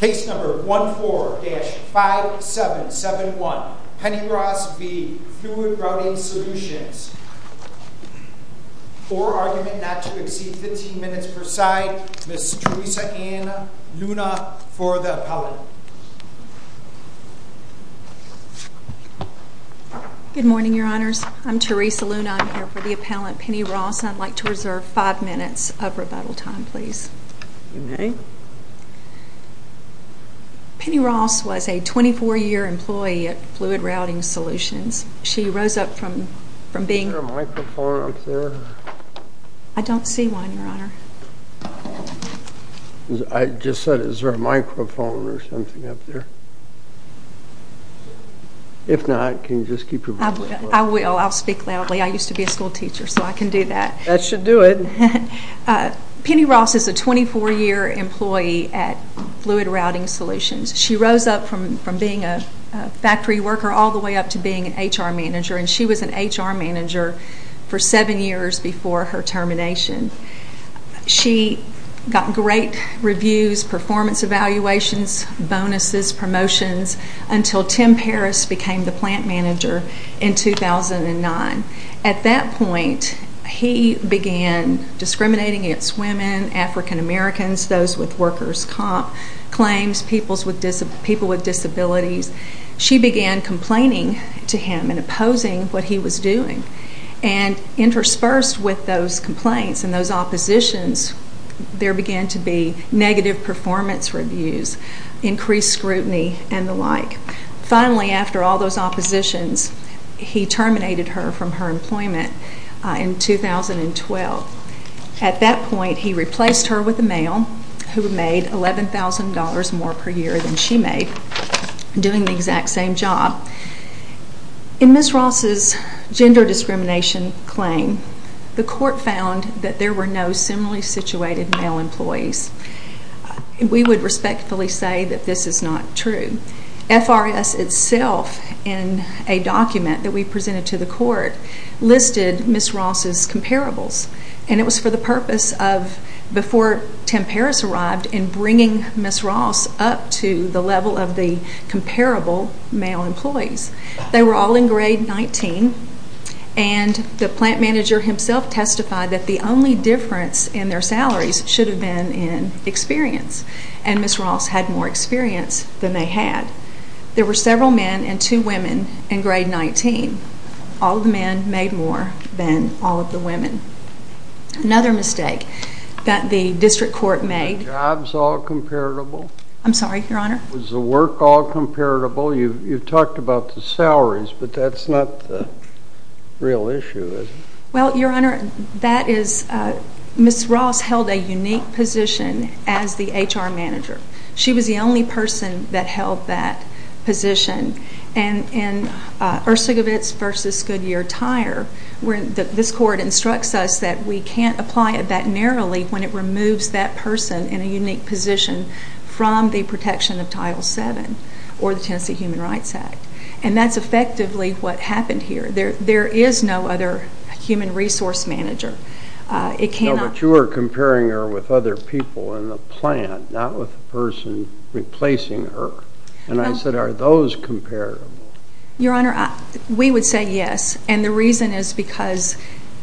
Case number 14-5771, Penny Ross v. Fluid Routing Solutions. For argument not to exceed 15 minutes per side, Ms. Teresa Ann Luna for the appellant. Good morning, your honors. I'm Teresa Luna. I'm here for the appellant, Penny Ross. I'd like to reserve five minutes of rebuttal time, please. Penny Ross was a 24-year employee at Fluid Routing Solutions. She rose up from being... Is there a microphone up there? I don't see one, your honor. I just said, is there a microphone or something up there? If not, can you just keep your voice low? I will. I'll speak loudly. I used to be a school teacher, so I can do that. That should do it. Penny Ross is a 24-year employee at Fluid Routing Solutions. She rose up from being a factory worker all the way up to being an HR manager, and she was an HR manager for seven years before her termination. She got great reviews, performance evaluations, bonuses, promotions, until Tim Paris became the plant manager in 2009. At that point, he began discriminating against women, African Americans, those with workers' comp claims, people with disabilities. She began complaining to him and opposing what he was doing. And interspersed with those complaints and those oppositions, there began to be negative performance reviews, increased scrutiny, and the like. Finally, after all those oppositions, he terminated her from her employment in 2012. At that point, he replaced her with a male who made $11,000 more per year than she made, doing the exact same job. In Ms. Ross's gender discrimination claim, the court found that there were no similarly situated male employees. We would respectfully say that this is not true. FRS itself, in a document that we presented to the court, listed Ms. Ross's comparables, and it was for the purpose of, before Tim Paris arrived, in bringing Ms. Ross up to the level of the comparable male employees. They were all in grade 19, and the plant manager himself testified that the only difference in their salaries should have been in experience, and Ms. Ross had more experience than they had. There were several men and two women in grade 19. All the men made more than all of the women. Another mistake that the district court made... Were the jobs all comparable? I'm sorry, Your Honor? Was the work all comparable? You've talked about the salaries, but that's not the real issue, is it? Well, Your Honor, Ms. Ross held a unique position as the HR manager. She was the only person that held that position. In Ursugowitz v. Goodyear Tire, this court instructs us that we can't apply it that narrowly when it removes that person in a unique position from the protection of Title VII or the Tennessee Human Rights Act. And that's effectively what happened here. There is no other human resource manager. But you were comparing her with other people in the plant, not with the person replacing her. And I said, Are those comparable? Your Honor, we would say yes, and the reason is because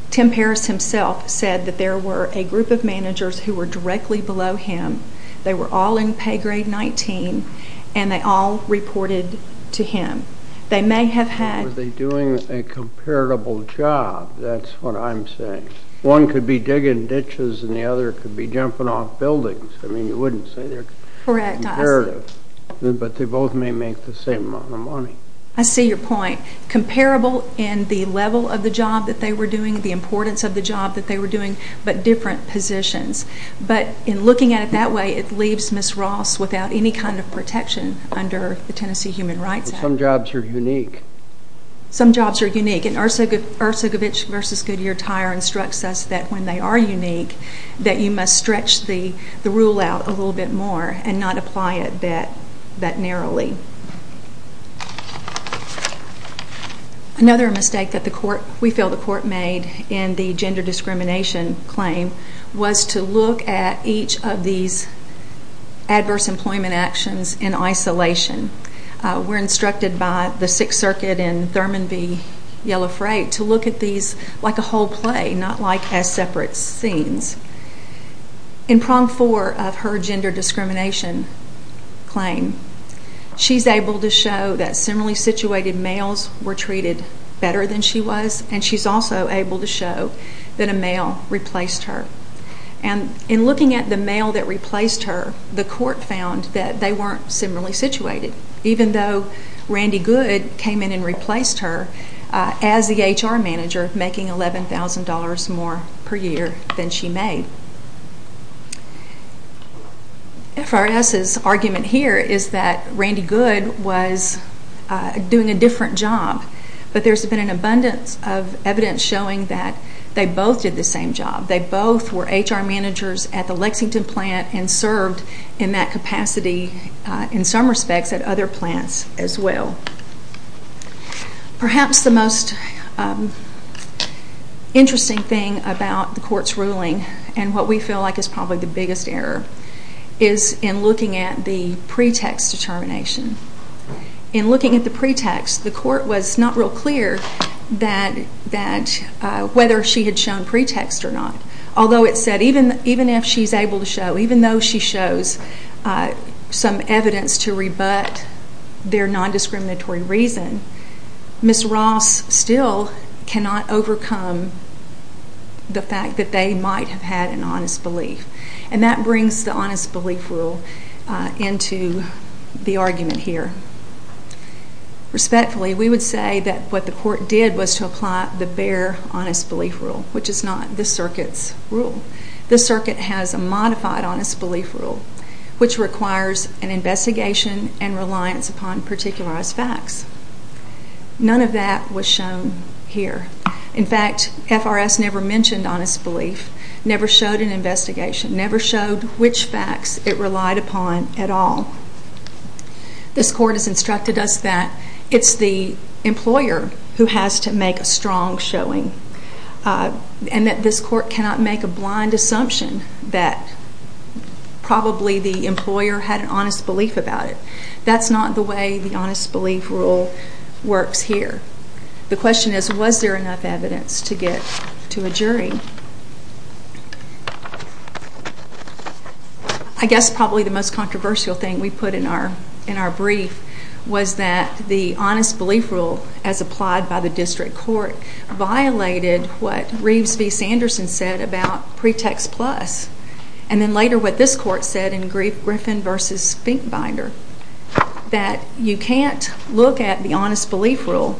Tim Paris himself said that there were a group of managers who were directly below him. They were all in pay grade 19, and they all reported to him. They may have had... Were they doing a comparable job? That's what I'm saying. One could be digging ditches, and the other could be jumping off buildings. I mean, you wouldn't say they're comparative. But they both may make the same amount of money. I see your point. Comparable in the level of the job that they were doing, the importance of the job that they were doing, but different positions. But in looking at it that way, it leaves Ms. Ross without any kind of protection under the Tennessee Human Rights Act. Some jobs are unique. Some jobs are unique. And Ursugowitz v. Goodyear Tire instructs us that when they are unique, that you must stretch the rule out a little bit more and not apply it that narrowly. Another mistake that we feel the court made in the gender discrimination claim was to look at each of these adverse employment actions in isolation. We're instructed by the Sixth Circuit in Thurman v. Yellow Freight to look at these like a whole play, not like as separate scenes. In prong four of her gender discrimination claim, she's able to show that similarly situated males were treated better than she was, and she's also able to show that a male replaced her. And in looking at the male that replaced her, the court found that they weren't similarly situated, even though Randy Good came in and replaced her as the HR manager, making $11,000 more per year than she made. FRS's argument here is that Randy Good was doing a different job, but there's been an abundance of evidence showing that they both did the same job. They both were HR managers at the Lexington plant and served in that capacity in some respects at other plants as well. Perhaps the most interesting thing about the court's ruling and what we feel like is probably the biggest error is in looking at the pretext determination. In looking at the pretext, the court was not real clear whether she had shown pretext or not, although it said even if she's able to show, even though she shows some evidence to rebut their nondiscriminatory reason, Ms. Ross still cannot overcome the fact that they might have had an honest belief. And that brings the honest belief rule into the argument here. Respectfully, we would say that what the court did was to apply the bare honest belief rule, which is not this circuit's rule. This circuit has a modified honest belief rule, which requires an investigation and reliance upon particularized facts. None of that was shown here. In fact, FRS never mentioned honest belief, never showed an investigation, never showed which facts it relied upon at all. This court has instructed us that it's the employer who has to make a strong showing and that this court cannot make a blind assumption that probably the employer had an honest belief about it. That's not the way the honest belief rule works here. The question is, was there enough evidence to get to a jury? I guess probably the most controversial thing we put in our brief was that the honest belief rule as applied by the district court violated what Reeves v. Sanderson said about Pretext Plus and then later what this court said in Griffin v. Finkbinder, that you can't look at the honest belief rule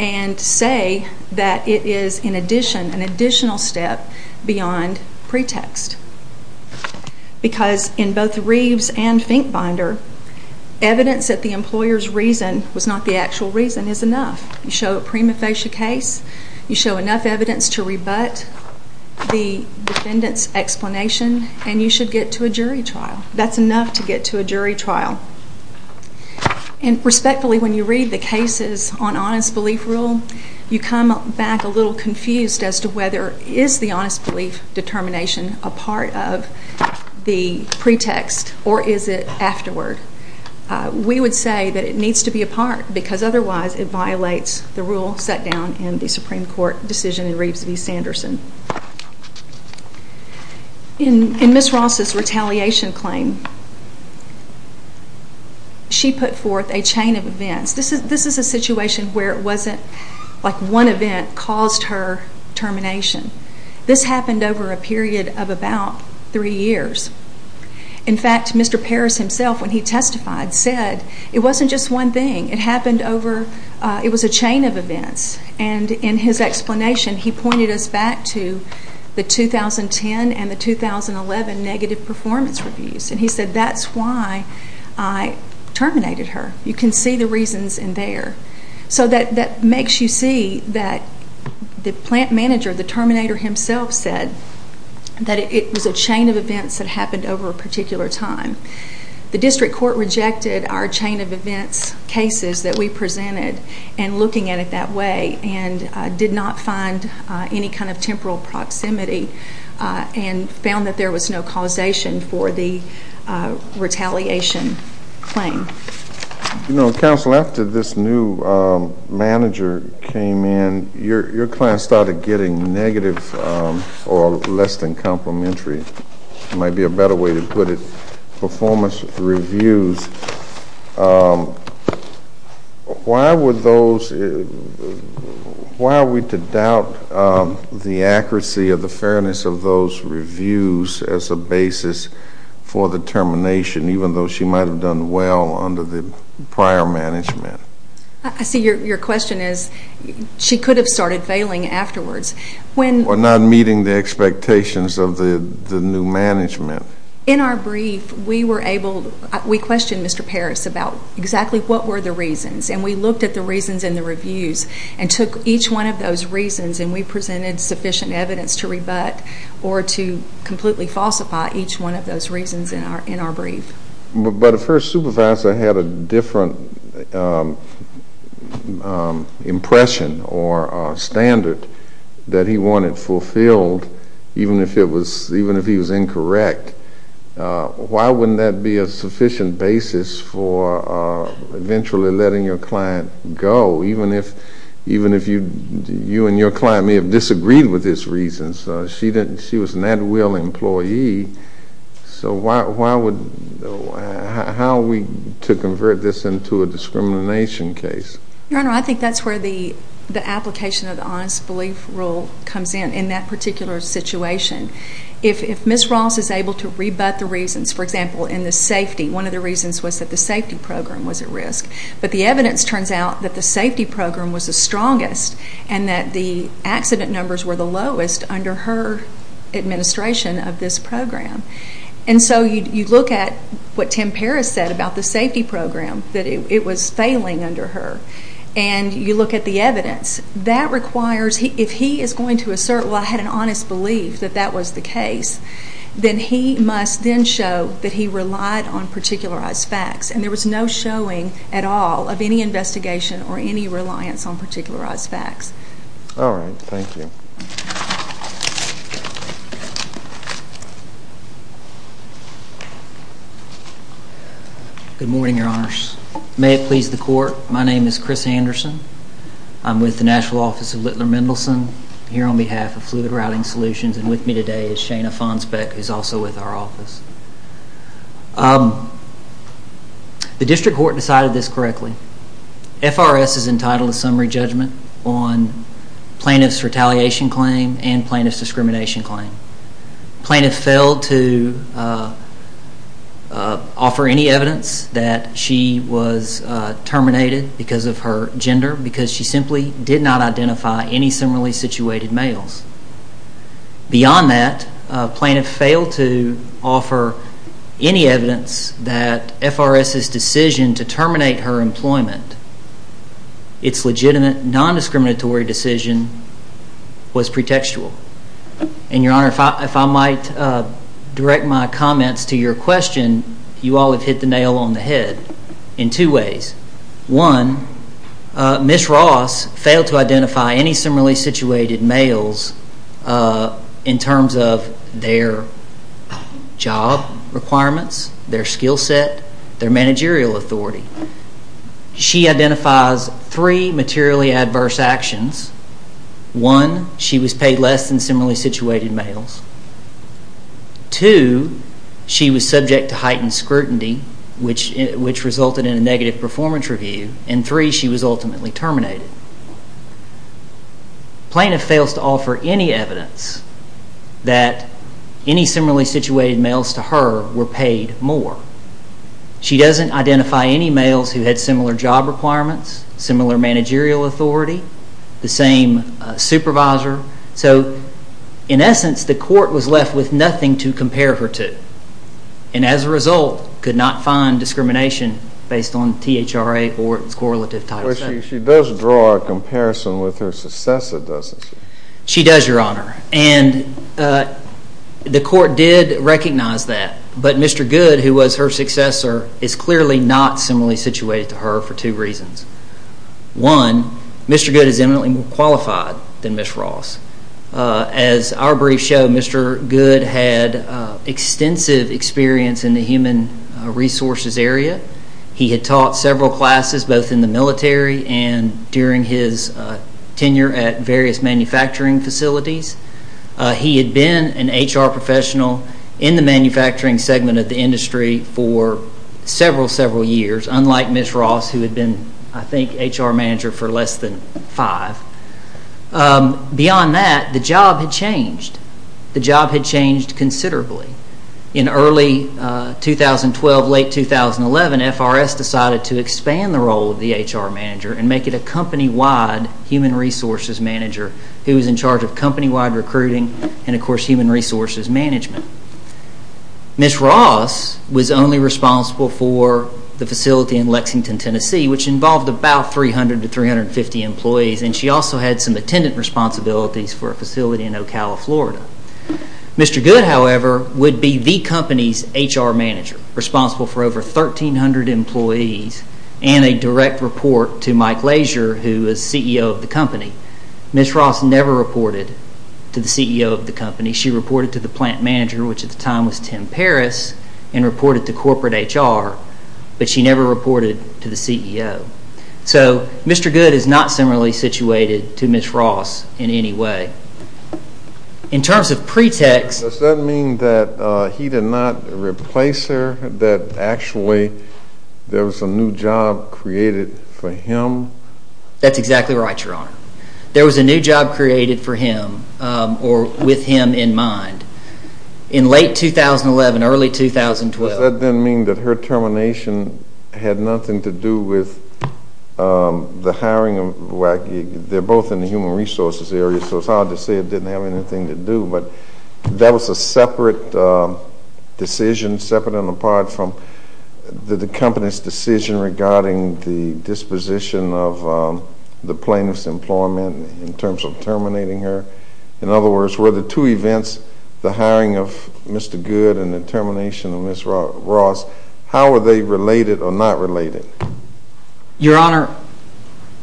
and say that it is an additional step beyond Pretext. Because in both Reeves and Finkbinder, evidence that the employer's reason was not the actual reason is enough. You show a prima facie case, you show enough evidence to rebut the defendant's explanation, and you should get to a jury trial. That's enough to get to a jury trial. Respectfully, when you read the cases on honest belief rule, you come back a little confused as to whether is the honest belief determination a part of the pretext or is it afterward. We would say that it needs to be a part because otherwise it violates the rule set down in the Supreme Court decision in Reeves v. Sanderson. In Ms. Ross's retaliation claim, she put forth a chain of events. This is a situation where it wasn't like one event caused her termination. This happened over a period of about three years. In fact, Mr. Parris himself, when he testified, said it wasn't just one thing. It was a chain of events. In his explanation, he pointed us back to the 2010 and the 2011 negative performance reviews. He said, that's why I terminated her. You can see the reasons in there. That makes you see that the plant manager, the terminator himself, said that it was a chain of events that happened over a particular time. The district court rejected our chain of events cases that we presented and looking at it that way and did not find any kind of temporal proximity and found that there was no causation for the retaliation claim. Counsel, after this new manager came in, your client started getting negative or less than complimentary. There might be a better way to put it. Performance reviews. Why are we to doubt the accuracy or the fairness of those reviews as a basis for the termination, even though she might have done well under the prior management? I see your question as she could have started failing afterwards. Or not meeting the expectations of the new management. In our brief, we questioned Mr. Parris about exactly what were the reasons, and we looked at the reasons in the reviews and took each one of those reasons and we presented sufficient evidence to rebut or to completely falsify each one of those reasons in our brief. But if her supervisor had a different impression or standard that he wanted fulfilled, even if he was incorrect, why wouldn't that be a sufficient basis for eventually letting your client go, even if you and your client may have disagreed with this reason? Because she was an at-will employee. So how are we to convert this into a discrimination case? Your Honor, I think that's where the application of the honest belief rule comes in, in that particular situation. If Ms. Ross is able to rebut the reasons, for example, in the safety, one of the reasons was that the safety program was at risk. But the evidence turns out that the safety program was the strongest and that the accident numbers were the lowest under her administration of this program. And so you look at what Tim Parris said about the safety program, that it was failing under her. And you look at the evidence. If he is going to assert, well, I had an honest belief that that was the case, then he must then show that he relied on particularized facts. And there was no showing at all of any investigation or any reliance on particularized facts. All right. Thank you. Good morning, Your Honors. May it please the Court, my name is Chris Anderson. I'm with the National Office of Littler Mendelson, here on behalf of Fluid Routing Solutions. And with me today is Shana Fonsbeck, who is also with our office. The district court decided this correctly. FRS is entitled to summary judgment on plaintiff's retaliation claim and plaintiff's discrimination claim. Plaintiff failed to offer any evidence that she was terminated because of her gender because she simply did not identify any similarly situated males. Beyond that, plaintiff failed to offer any evidence that FRS's decision to terminate her employment, its legitimate non-discriminatory decision, was pretextual. And, Your Honor, if I might direct my comments to your question, you all have hit the nail on the head in two ways. One, Ms. Ross failed to identify any similarly situated males in terms of their job requirements, their skill set, their managerial authority. She identifies three materially adverse actions. One, she was paid less than similarly situated males. Two, she was subject to heightened scrutiny, which resulted in a negative performance review. And three, she was ultimately terminated. Plaintiff fails to offer any evidence that any similarly situated males to her were paid more. She doesn't identify any males who had similar job requirements, similar managerial authority, the same supervisor. So, in essence, the court was left with nothing to compare her to and, as a result, could not find discrimination based on THRA or its correlative title. She does draw a comparison with her successor, doesn't she? She does, Your Honor, and the court did recognize that. But Mr. Goode, who was her successor, is clearly not similarly situated to her for two reasons. One, Mr. Goode is eminently more qualified than Ms. Ross. As our briefs show, Mr. Goode had extensive experience in the human resources area. He had taught several classes, both in the military and during his tenure at various manufacturing facilities. He had been an HR professional in the manufacturing segment of the industry for several, several years, unlike Ms. Ross, who had been, I think, HR manager for less than five. Beyond that, the job had changed considerably. In early 2012, late 2011, FRS decided to expand the role of the HR manager and make it a company-wide human resources manager who was in charge of company-wide recruiting and, of course, human resources management. Ms. Ross was only responsible for the facility in Lexington, Tennessee, which involved about 300 to 350 employees, and she also had some attendant responsibilities for a facility in Ocala, Florida. Mr. Goode, however, would be the company's HR manager, responsible for over 1,300 employees and a direct report to Mike Lazier, who was CEO of the company. She reported to the plant manager, which at the time was Tim Parris, and reported to corporate HR, but she never reported to the CEO. So Mr. Goode is not similarly situated to Ms. Ross in any way. In terms of pretext— Does that mean that he did not replace her, that actually there was a new job created for him? That's exactly right, Your Honor. There was a new job created for him or with him in mind in late 2011, early 2012. Does that then mean that her termination had nothing to do with the hiring of WAC? They're both in the human resources area, so it's hard to say it didn't have anything to do, but that was a separate decision, separate and apart from the company's decision regarding the disposition of the plaintiff's employment in terms of terminating her. In other words, were the two events, the hiring of Mr. Goode and the termination of Ms. Ross, how were they related or not related? Your Honor,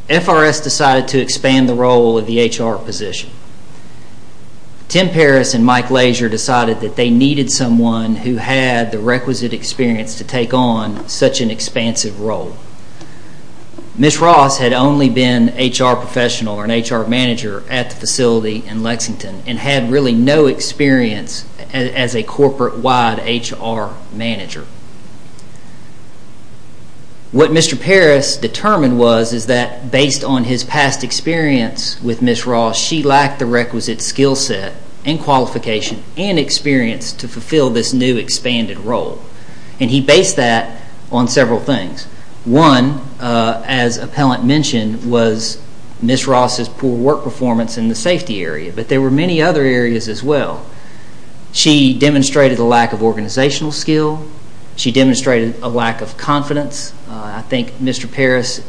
FRS decided to expand the role of the HR position. Tim Parris and Mike Lazier decided that they needed someone who had the requisite experience to take on such an expansive role. Ms. Ross had only been an HR professional or an HR manager at the facility in Lexington and had really no experience as a corporate-wide HR manager. What Mr. Parris determined was that based on his past experience with Ms. Ross, she lacked the requisite skill set and qualification and experience to fulfill this new expanded role. He based that on several things. One, as Appellant mentioned, was Ms. Ross's poor work performance in the safety area, but there were many other areas as well. She demonstrated a lack of organizational skill. She demonstrated a lack of confidence. I think Mr. Parris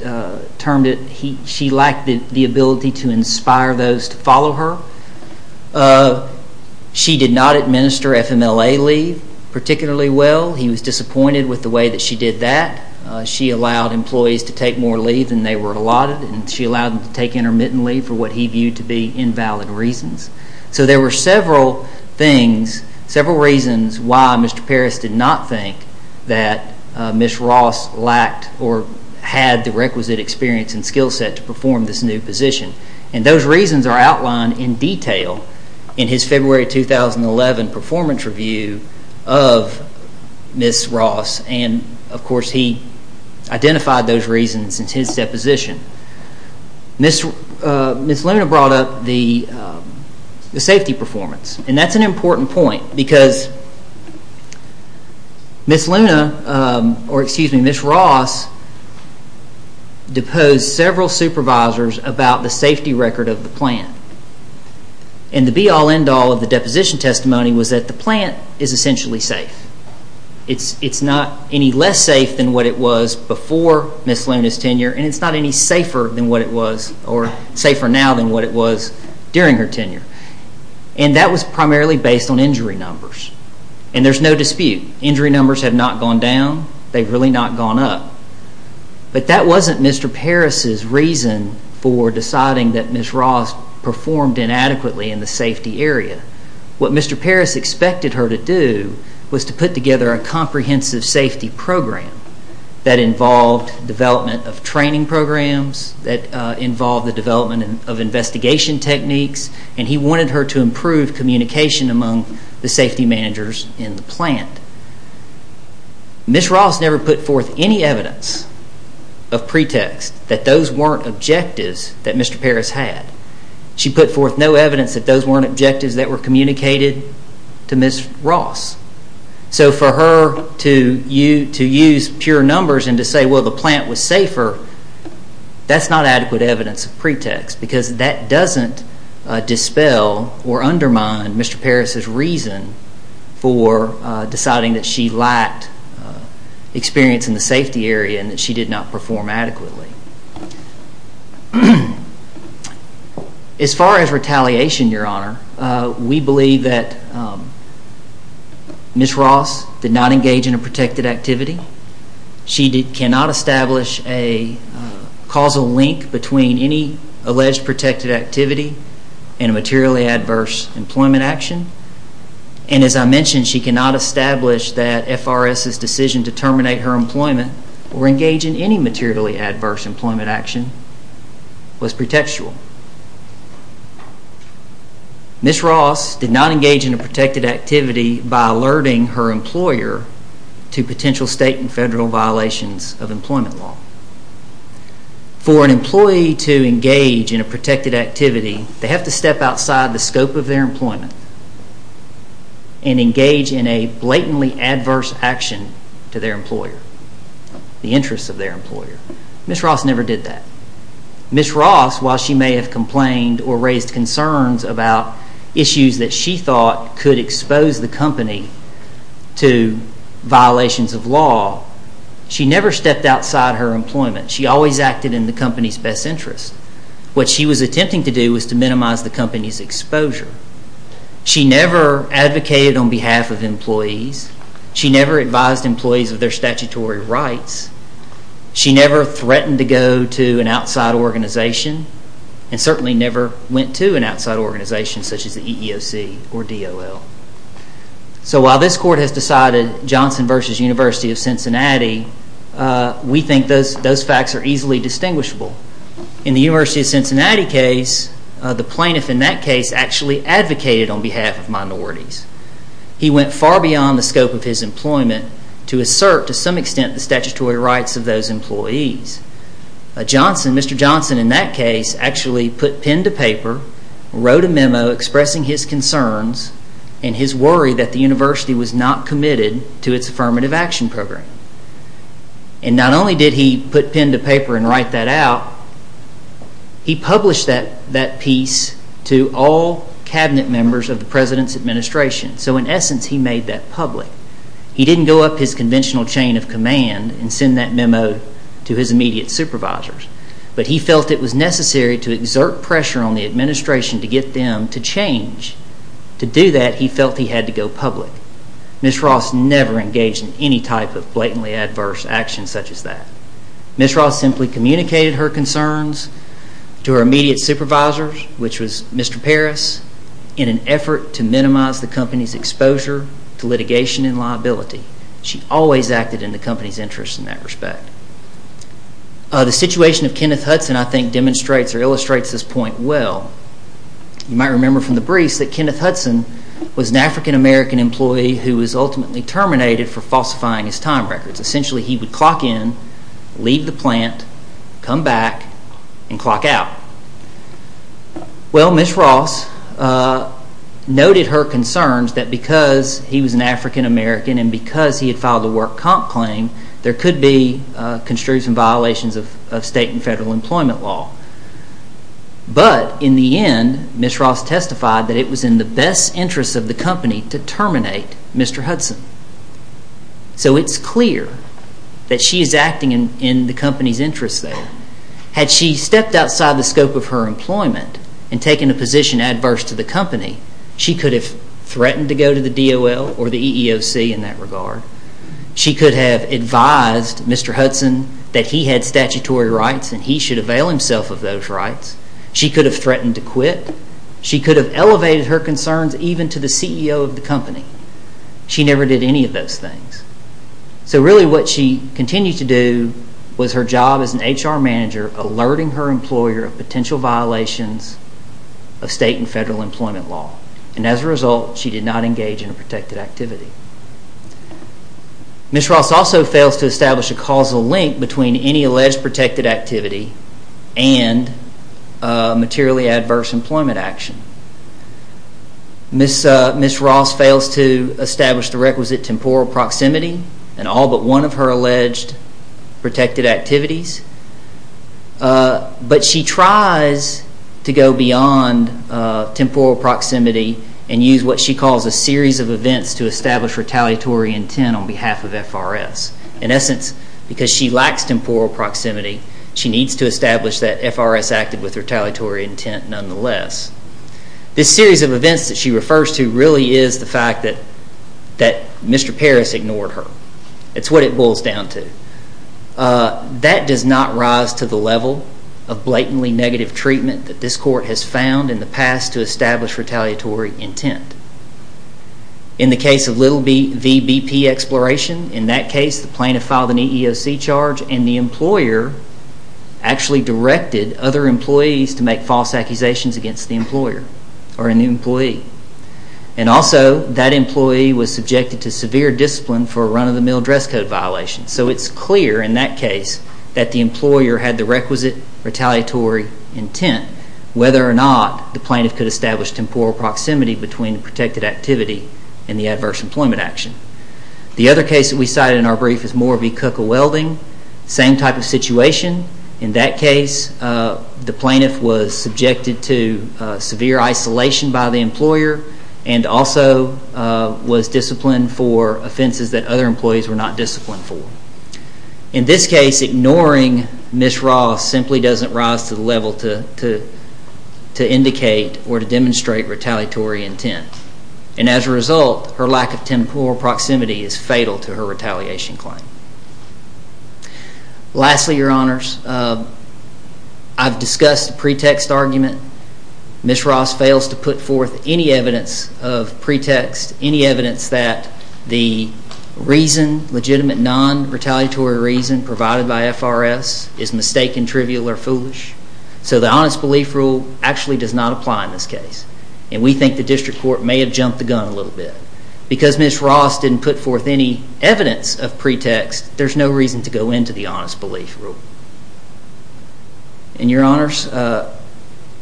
termed it she lacked the ability to inspire those to follow her. She did not administer FMLA leave particularly well. He was disappointed with the way that she did that. She allowed employees to take more leave than they were allotted and she allowed them to take intermittent leave for what he viewed to be invalid reasons. There were several reasons why Mr. Parris did not think that Ms. Ross lacked or had the requisite experience and skill set to perform this new position. Those reasons are outlined in detail in his February 2011 performance review of Ms. Ross. Of course, he identified those reasons in his deposition. Ms. Luna brought up the safety performance and that's an important point because Ms. Ross deposed several supervisors about the safety record of the plant. The be all end all of the deposition testimony was that the plant is essentially safe. It's not any less safe than what it was before Ms. Luna's tenure and it's not any safer now than what it was during her tenure. That was primarily based on injury numbers and there's no dispute. Injury numbers have not gone down. They've really not gone up. But that wasn't Mr. Parris's reason for deciding that Ms. Ross performed inadequately in the safety area. What Mr. Parris expected her to do was to put together a comprehensive safety program that involved development of training programs, that involved the development of investigation techniques, and he wanted her to improve communication among the safety managers in the plant. Ms. Ross never put forth any evidence of pretext that those weren't objectives that Mr. Parris had. She put forth no evidence that those weren't objectives that were communicated to Ms. Ross. So for her to use pure numbers and to say, well, the plant was safer, that's not adequate evidence of pretext because that doesn't dispel or undermine Mr. Parris's reason for deciding that she lacked experience in the safety area and that she did not perform adequately. As far as retaliation, Your Honor, we believe that Ms. Ross did not engage in a protected activity. She cannot establish a causal link between any alleged protected activity and a materially adverse employment action. And as I mentioned, she cannot establish that FRS's decision to terminate her employment or engage in any materially adverse employment action was pretextual. Ms. Ross did not engage in a protected activity by alerting her employer to potential state and federal violations of employment law. For an employee to engage in a protected activity, they have to step outside the scope of their employment and engage in a blatantly adverse action to their employer, the interests of their employer. Ms. Ross never did that. Ms. Ross, while she may have complained or raised concerns about issues that she thought could expose the company to violations of law, she never stepped outside her employment. She always acted in the company's best interest. What she was attempting to do was to minimize the company's exposure. She never advocated on behalf of employees. She never advised employees of their statutory rights. She never threatened to go to an outside organization and certainly never went to an outside organization such as the EEOC or DOL. So while this Court has decided Johnson v. University of Cincinnati, we think those facts are easily distinguishable. In the University of Cincinnati case, the plaintiff in that case actually advocated on behalf of minorities. He went far beyond the scope of his employment to assert to some extent the statutory rights of those employees. Mr. Johnson in that case actually put pen to paper, wrote a memo expressing his concerns and his worry that the university was not committed to its affirmative action program. And not only did he put pen to paper and write that out, he published that piece to all cabinet members of the president's administration. So in essence, he made that public. He didn't go up his conventional chain of command and send that memo to his immediate supervisors. But he felt it was necessary to exert pressure on the administration to get them to change. To do that, he felt he had to go public. Ms. Ross never engaged in any type of blatantly adverse action such as that. Ms. Ross simply communicated her concerns to her immediate supervisors, which was Mr. Parris, in an effort to minimize the company's exposure to litigation and liability. She always acted in the company's interest in that respect. The situation of Kenneth Hudson, I think, demonstrates or illustrates this point well. You might remember from the briefs that Kenneth Hudson was an African-American employee who was ultimately terminated for falsifying his time records. Essentially, he would clock in, leave the plant, come back, and clock out. Well, Ms. Ross noted her concerns that because he was an African-American and because he had filed a work comp claim, there could be construction violations of state and federal employment law. But in the end, Ms. Ross testified that it was in the best interest of the company to terminate Mr. Hudson. So it's clear that she is acting in the company's interest there. Had she stepped outside the scope of her employment and taken a position adverse to the company, she could have threatened to go to the DOL or the EEOC in that regard. She could have advised Mr. Hudson that he had statutory rights and he should avail himself of those rights. She could have threatened to quit. She could have elevated her concerns even to the CEO of the company. She never did any of those things. So really what she continued to do was her job as an HR manager, alerting her employer of potential violations of state and federal employment law. And as a result, she did not engage in a protected activity. Ms. Ross also fails to establish a causal link between any alleged protected activity and materially adverse employment action. Ms. Ross fails to establish the requisite temporal proximity in all but one of her alleged protected activities. But she tries to go beyond temporal proximity and use what she calls a series of events to establish retaliatory intent on behalf of FRS. In essence, because she lacks temporal proximity, she needs to establish that FRS acted with retaliatory intent nonetheless. This series of events that she refers to really is the fact that Mr. Paris ignored her. It's what it boils down to. That does not rise to the level of blatantly negative treatment that this court has found in the past to establish retaliatory intent. In the case of Little v. BP Exploration, in that case the plaintiff filed an EEOC charge and the employer actually directed other employees to make false accusations against the employer or an employee. And also, that employee was subjected to severe discipline for a run-of-the-mill dress code violation. So it's clear in that case that the employer had the requisite retaliatory intent whether or not the plaintiff could establish temporal proximity between protected activity and the adverse employment action. The other case that we cited in our brief is Moore v. Cook of Welding. Same type of situation. In that case, the plaintiff was subjected to severe isolation by the employer and also was disciplined for offenses that other employees were not disciplined for. In this case, ignoring Ms. Ross simply doesn't rise to the level to indicate or to demonstrate retaliatory intent. And as a result, her lack of temporal proximity is fatal to her retaliation claim. Lastly, Your Honors, I've discussed the pretext argument. Ms. Ross fails to put forth any evidence of pretext, any evidence that the reason, legitimate non-retaliatory reason, provided by FRS is mistaken, trivial, or foolish. So the Honest Belief Rule actually does not apply in this case. And we think the District Court may have jumped the gun a little bit. Because Ms. Ross didn't put forth any evidence of pretext, there's no reason to go into the Honest Belief Rule. And Your Honors,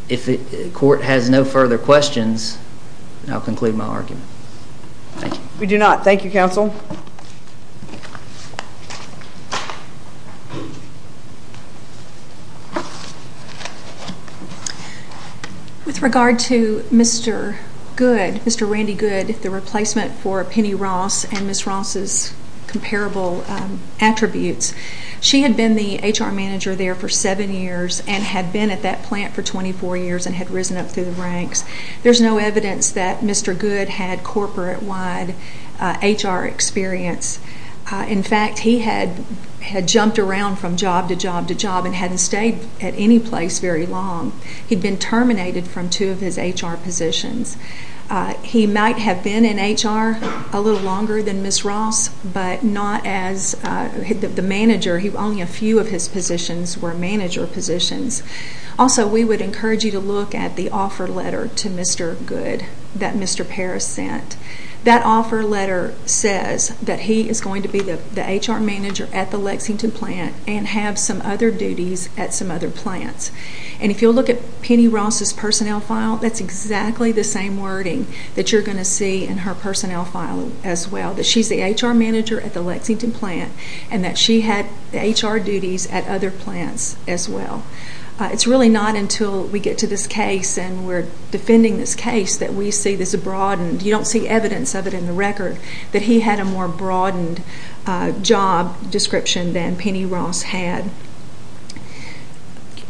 if the Court has no further questions, I'll conclude my argument. Thank you. We do not. Thank you, Counsel. With regard to Mr. Good, Mr. Randy Good, the replacement for Penny Ross and Ms. Ross's comparable attributes, she had been the HR manager there for seven years and had been at that plant for 24 years and had risen up through the ranks. There's no evidence that Mr. Good had corporate-wide HR experience. In fact, he had jumped around from job to job to job and hadn't stayed at any place very long. He'd been terminated from two of his HR positions. He might have been in HR a little longer than Ms. Ross, but not as the manager. Only a few of his positions were manager positions. Also, we would encourage you to look at the offer letter to Mr. Good that Mr. Parris sent. That offer letter says that he is going to be the HR manager at the Lexington plant and have some other duties at some other plants. And if you'll look at Penny Ross's personnel file, that's exactly the same wording that you're going to see in her personnel file as well, that she's the HR manager at the Lexington plant and that she had HR duties at other plants as well. It's really not until we get to this case and we're defending this case that we see this broadened. You don't see evidence of it in the record that he had a more broadened job description than Penny Ross had.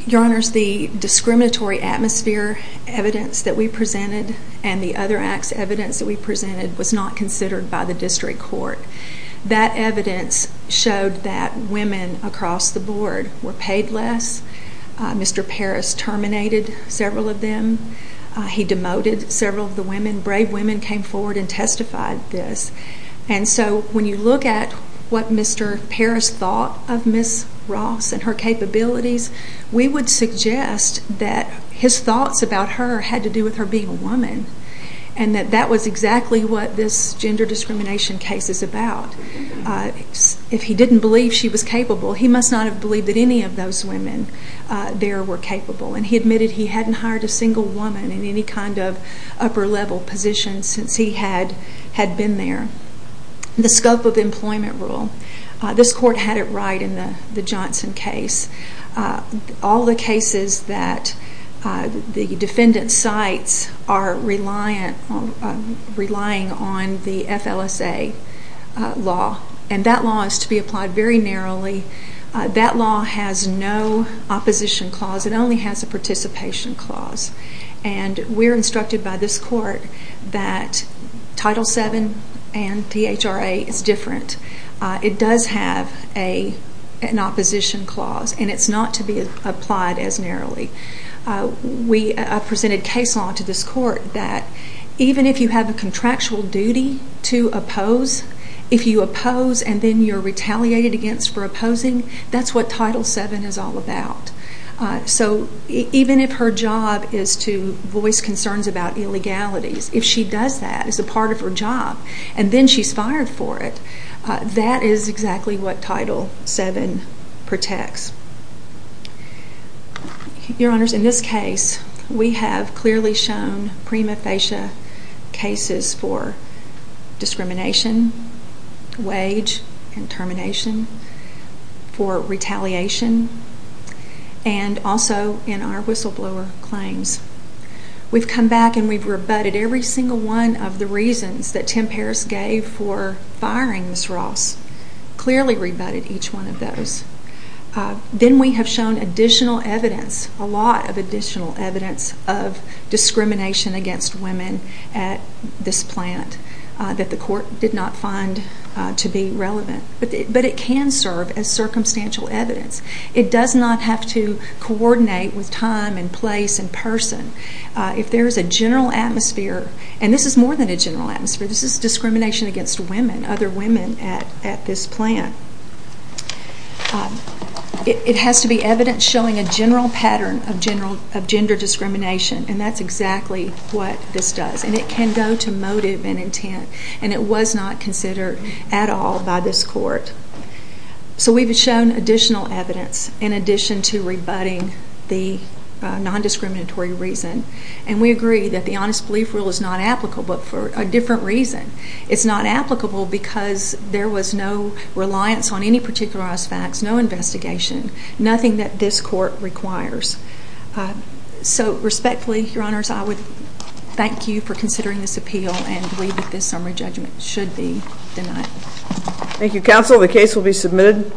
Your Honors, the discriminatory atmosphere evidence that we presented and the other acts evidence that we presented was not considered by the district court. That evidence showed that women across the board were paid less. Mr. Parris terminated several of them. He demoted several of the women. Brave women came forward and testified this. And so when you look at what Mr. Parris thought of Ms. Ross and her capabilities, we would suggest that his thoughts about her had to do with her being a woman and that that was exactly what this gender discrimination case is about. If he didn't believe she was capable, he must not have believed that any of those women there were capable. And he admitted he hadn't hired a single woman in any kind of upper level position since he had been there. The scope of employment rule. This court had it right in the Johnson case. All the cases that the defendant cites are relying on the FLSA law. And that law is to be applied very narrowly. That law has no opposition clause. It only has a participation clause. And we're instructed by this court that Title VII and DHRA is different. It does have an opposition clause, and it's not to be applied as narrowly. I presented case law to this court that even if you have a contractual duty to oppose, if you oppose and then you're retaliated against for opposing, that's what Title VII is all about. So even if her job is to voice concerns about illegalities, if she does that as a part of her job and then she's fired for it, that is exactly what Title VII protects. Your Honors, in this case, we have clearly shown prima facie cases for discrimination, wage and termination, for retaliation, and also in our whistleblower claims. We've come back and we've rebutted every single one of the reasons that Tim Paris gave for firing Ms. Ross. Clearly rebutted each one of those. Then we have shown additional evidence, a lot of additional evidence, of discrimination against women at this plant that the court did not find to be relevant. But it can serve as circumstantial evidence. It does not have to coordinate with time and place and person. If there is a general atmosphere, and this is more than a general atmosphere, this is discrimination against women, other women at this plant. It has to be evidence showing a general pattern of gender discrimination, and that's exactly what this does. And it can go to motive and intent, and it was not considered at all by this court. So we've shown additional evidence in addition to rebutting the nondiscriminatory reason, and we agree that the Honest Belief Rule is not applicable, but for a different reason. It's not applicable because there was no reliance on any particularized facts, no investigation, nothing that this court requires. So respectfully, Your Honors, I would thank you for considering this appeal and believe that this summary judgment should be denied. Thank you, counsel. The case will be submitted.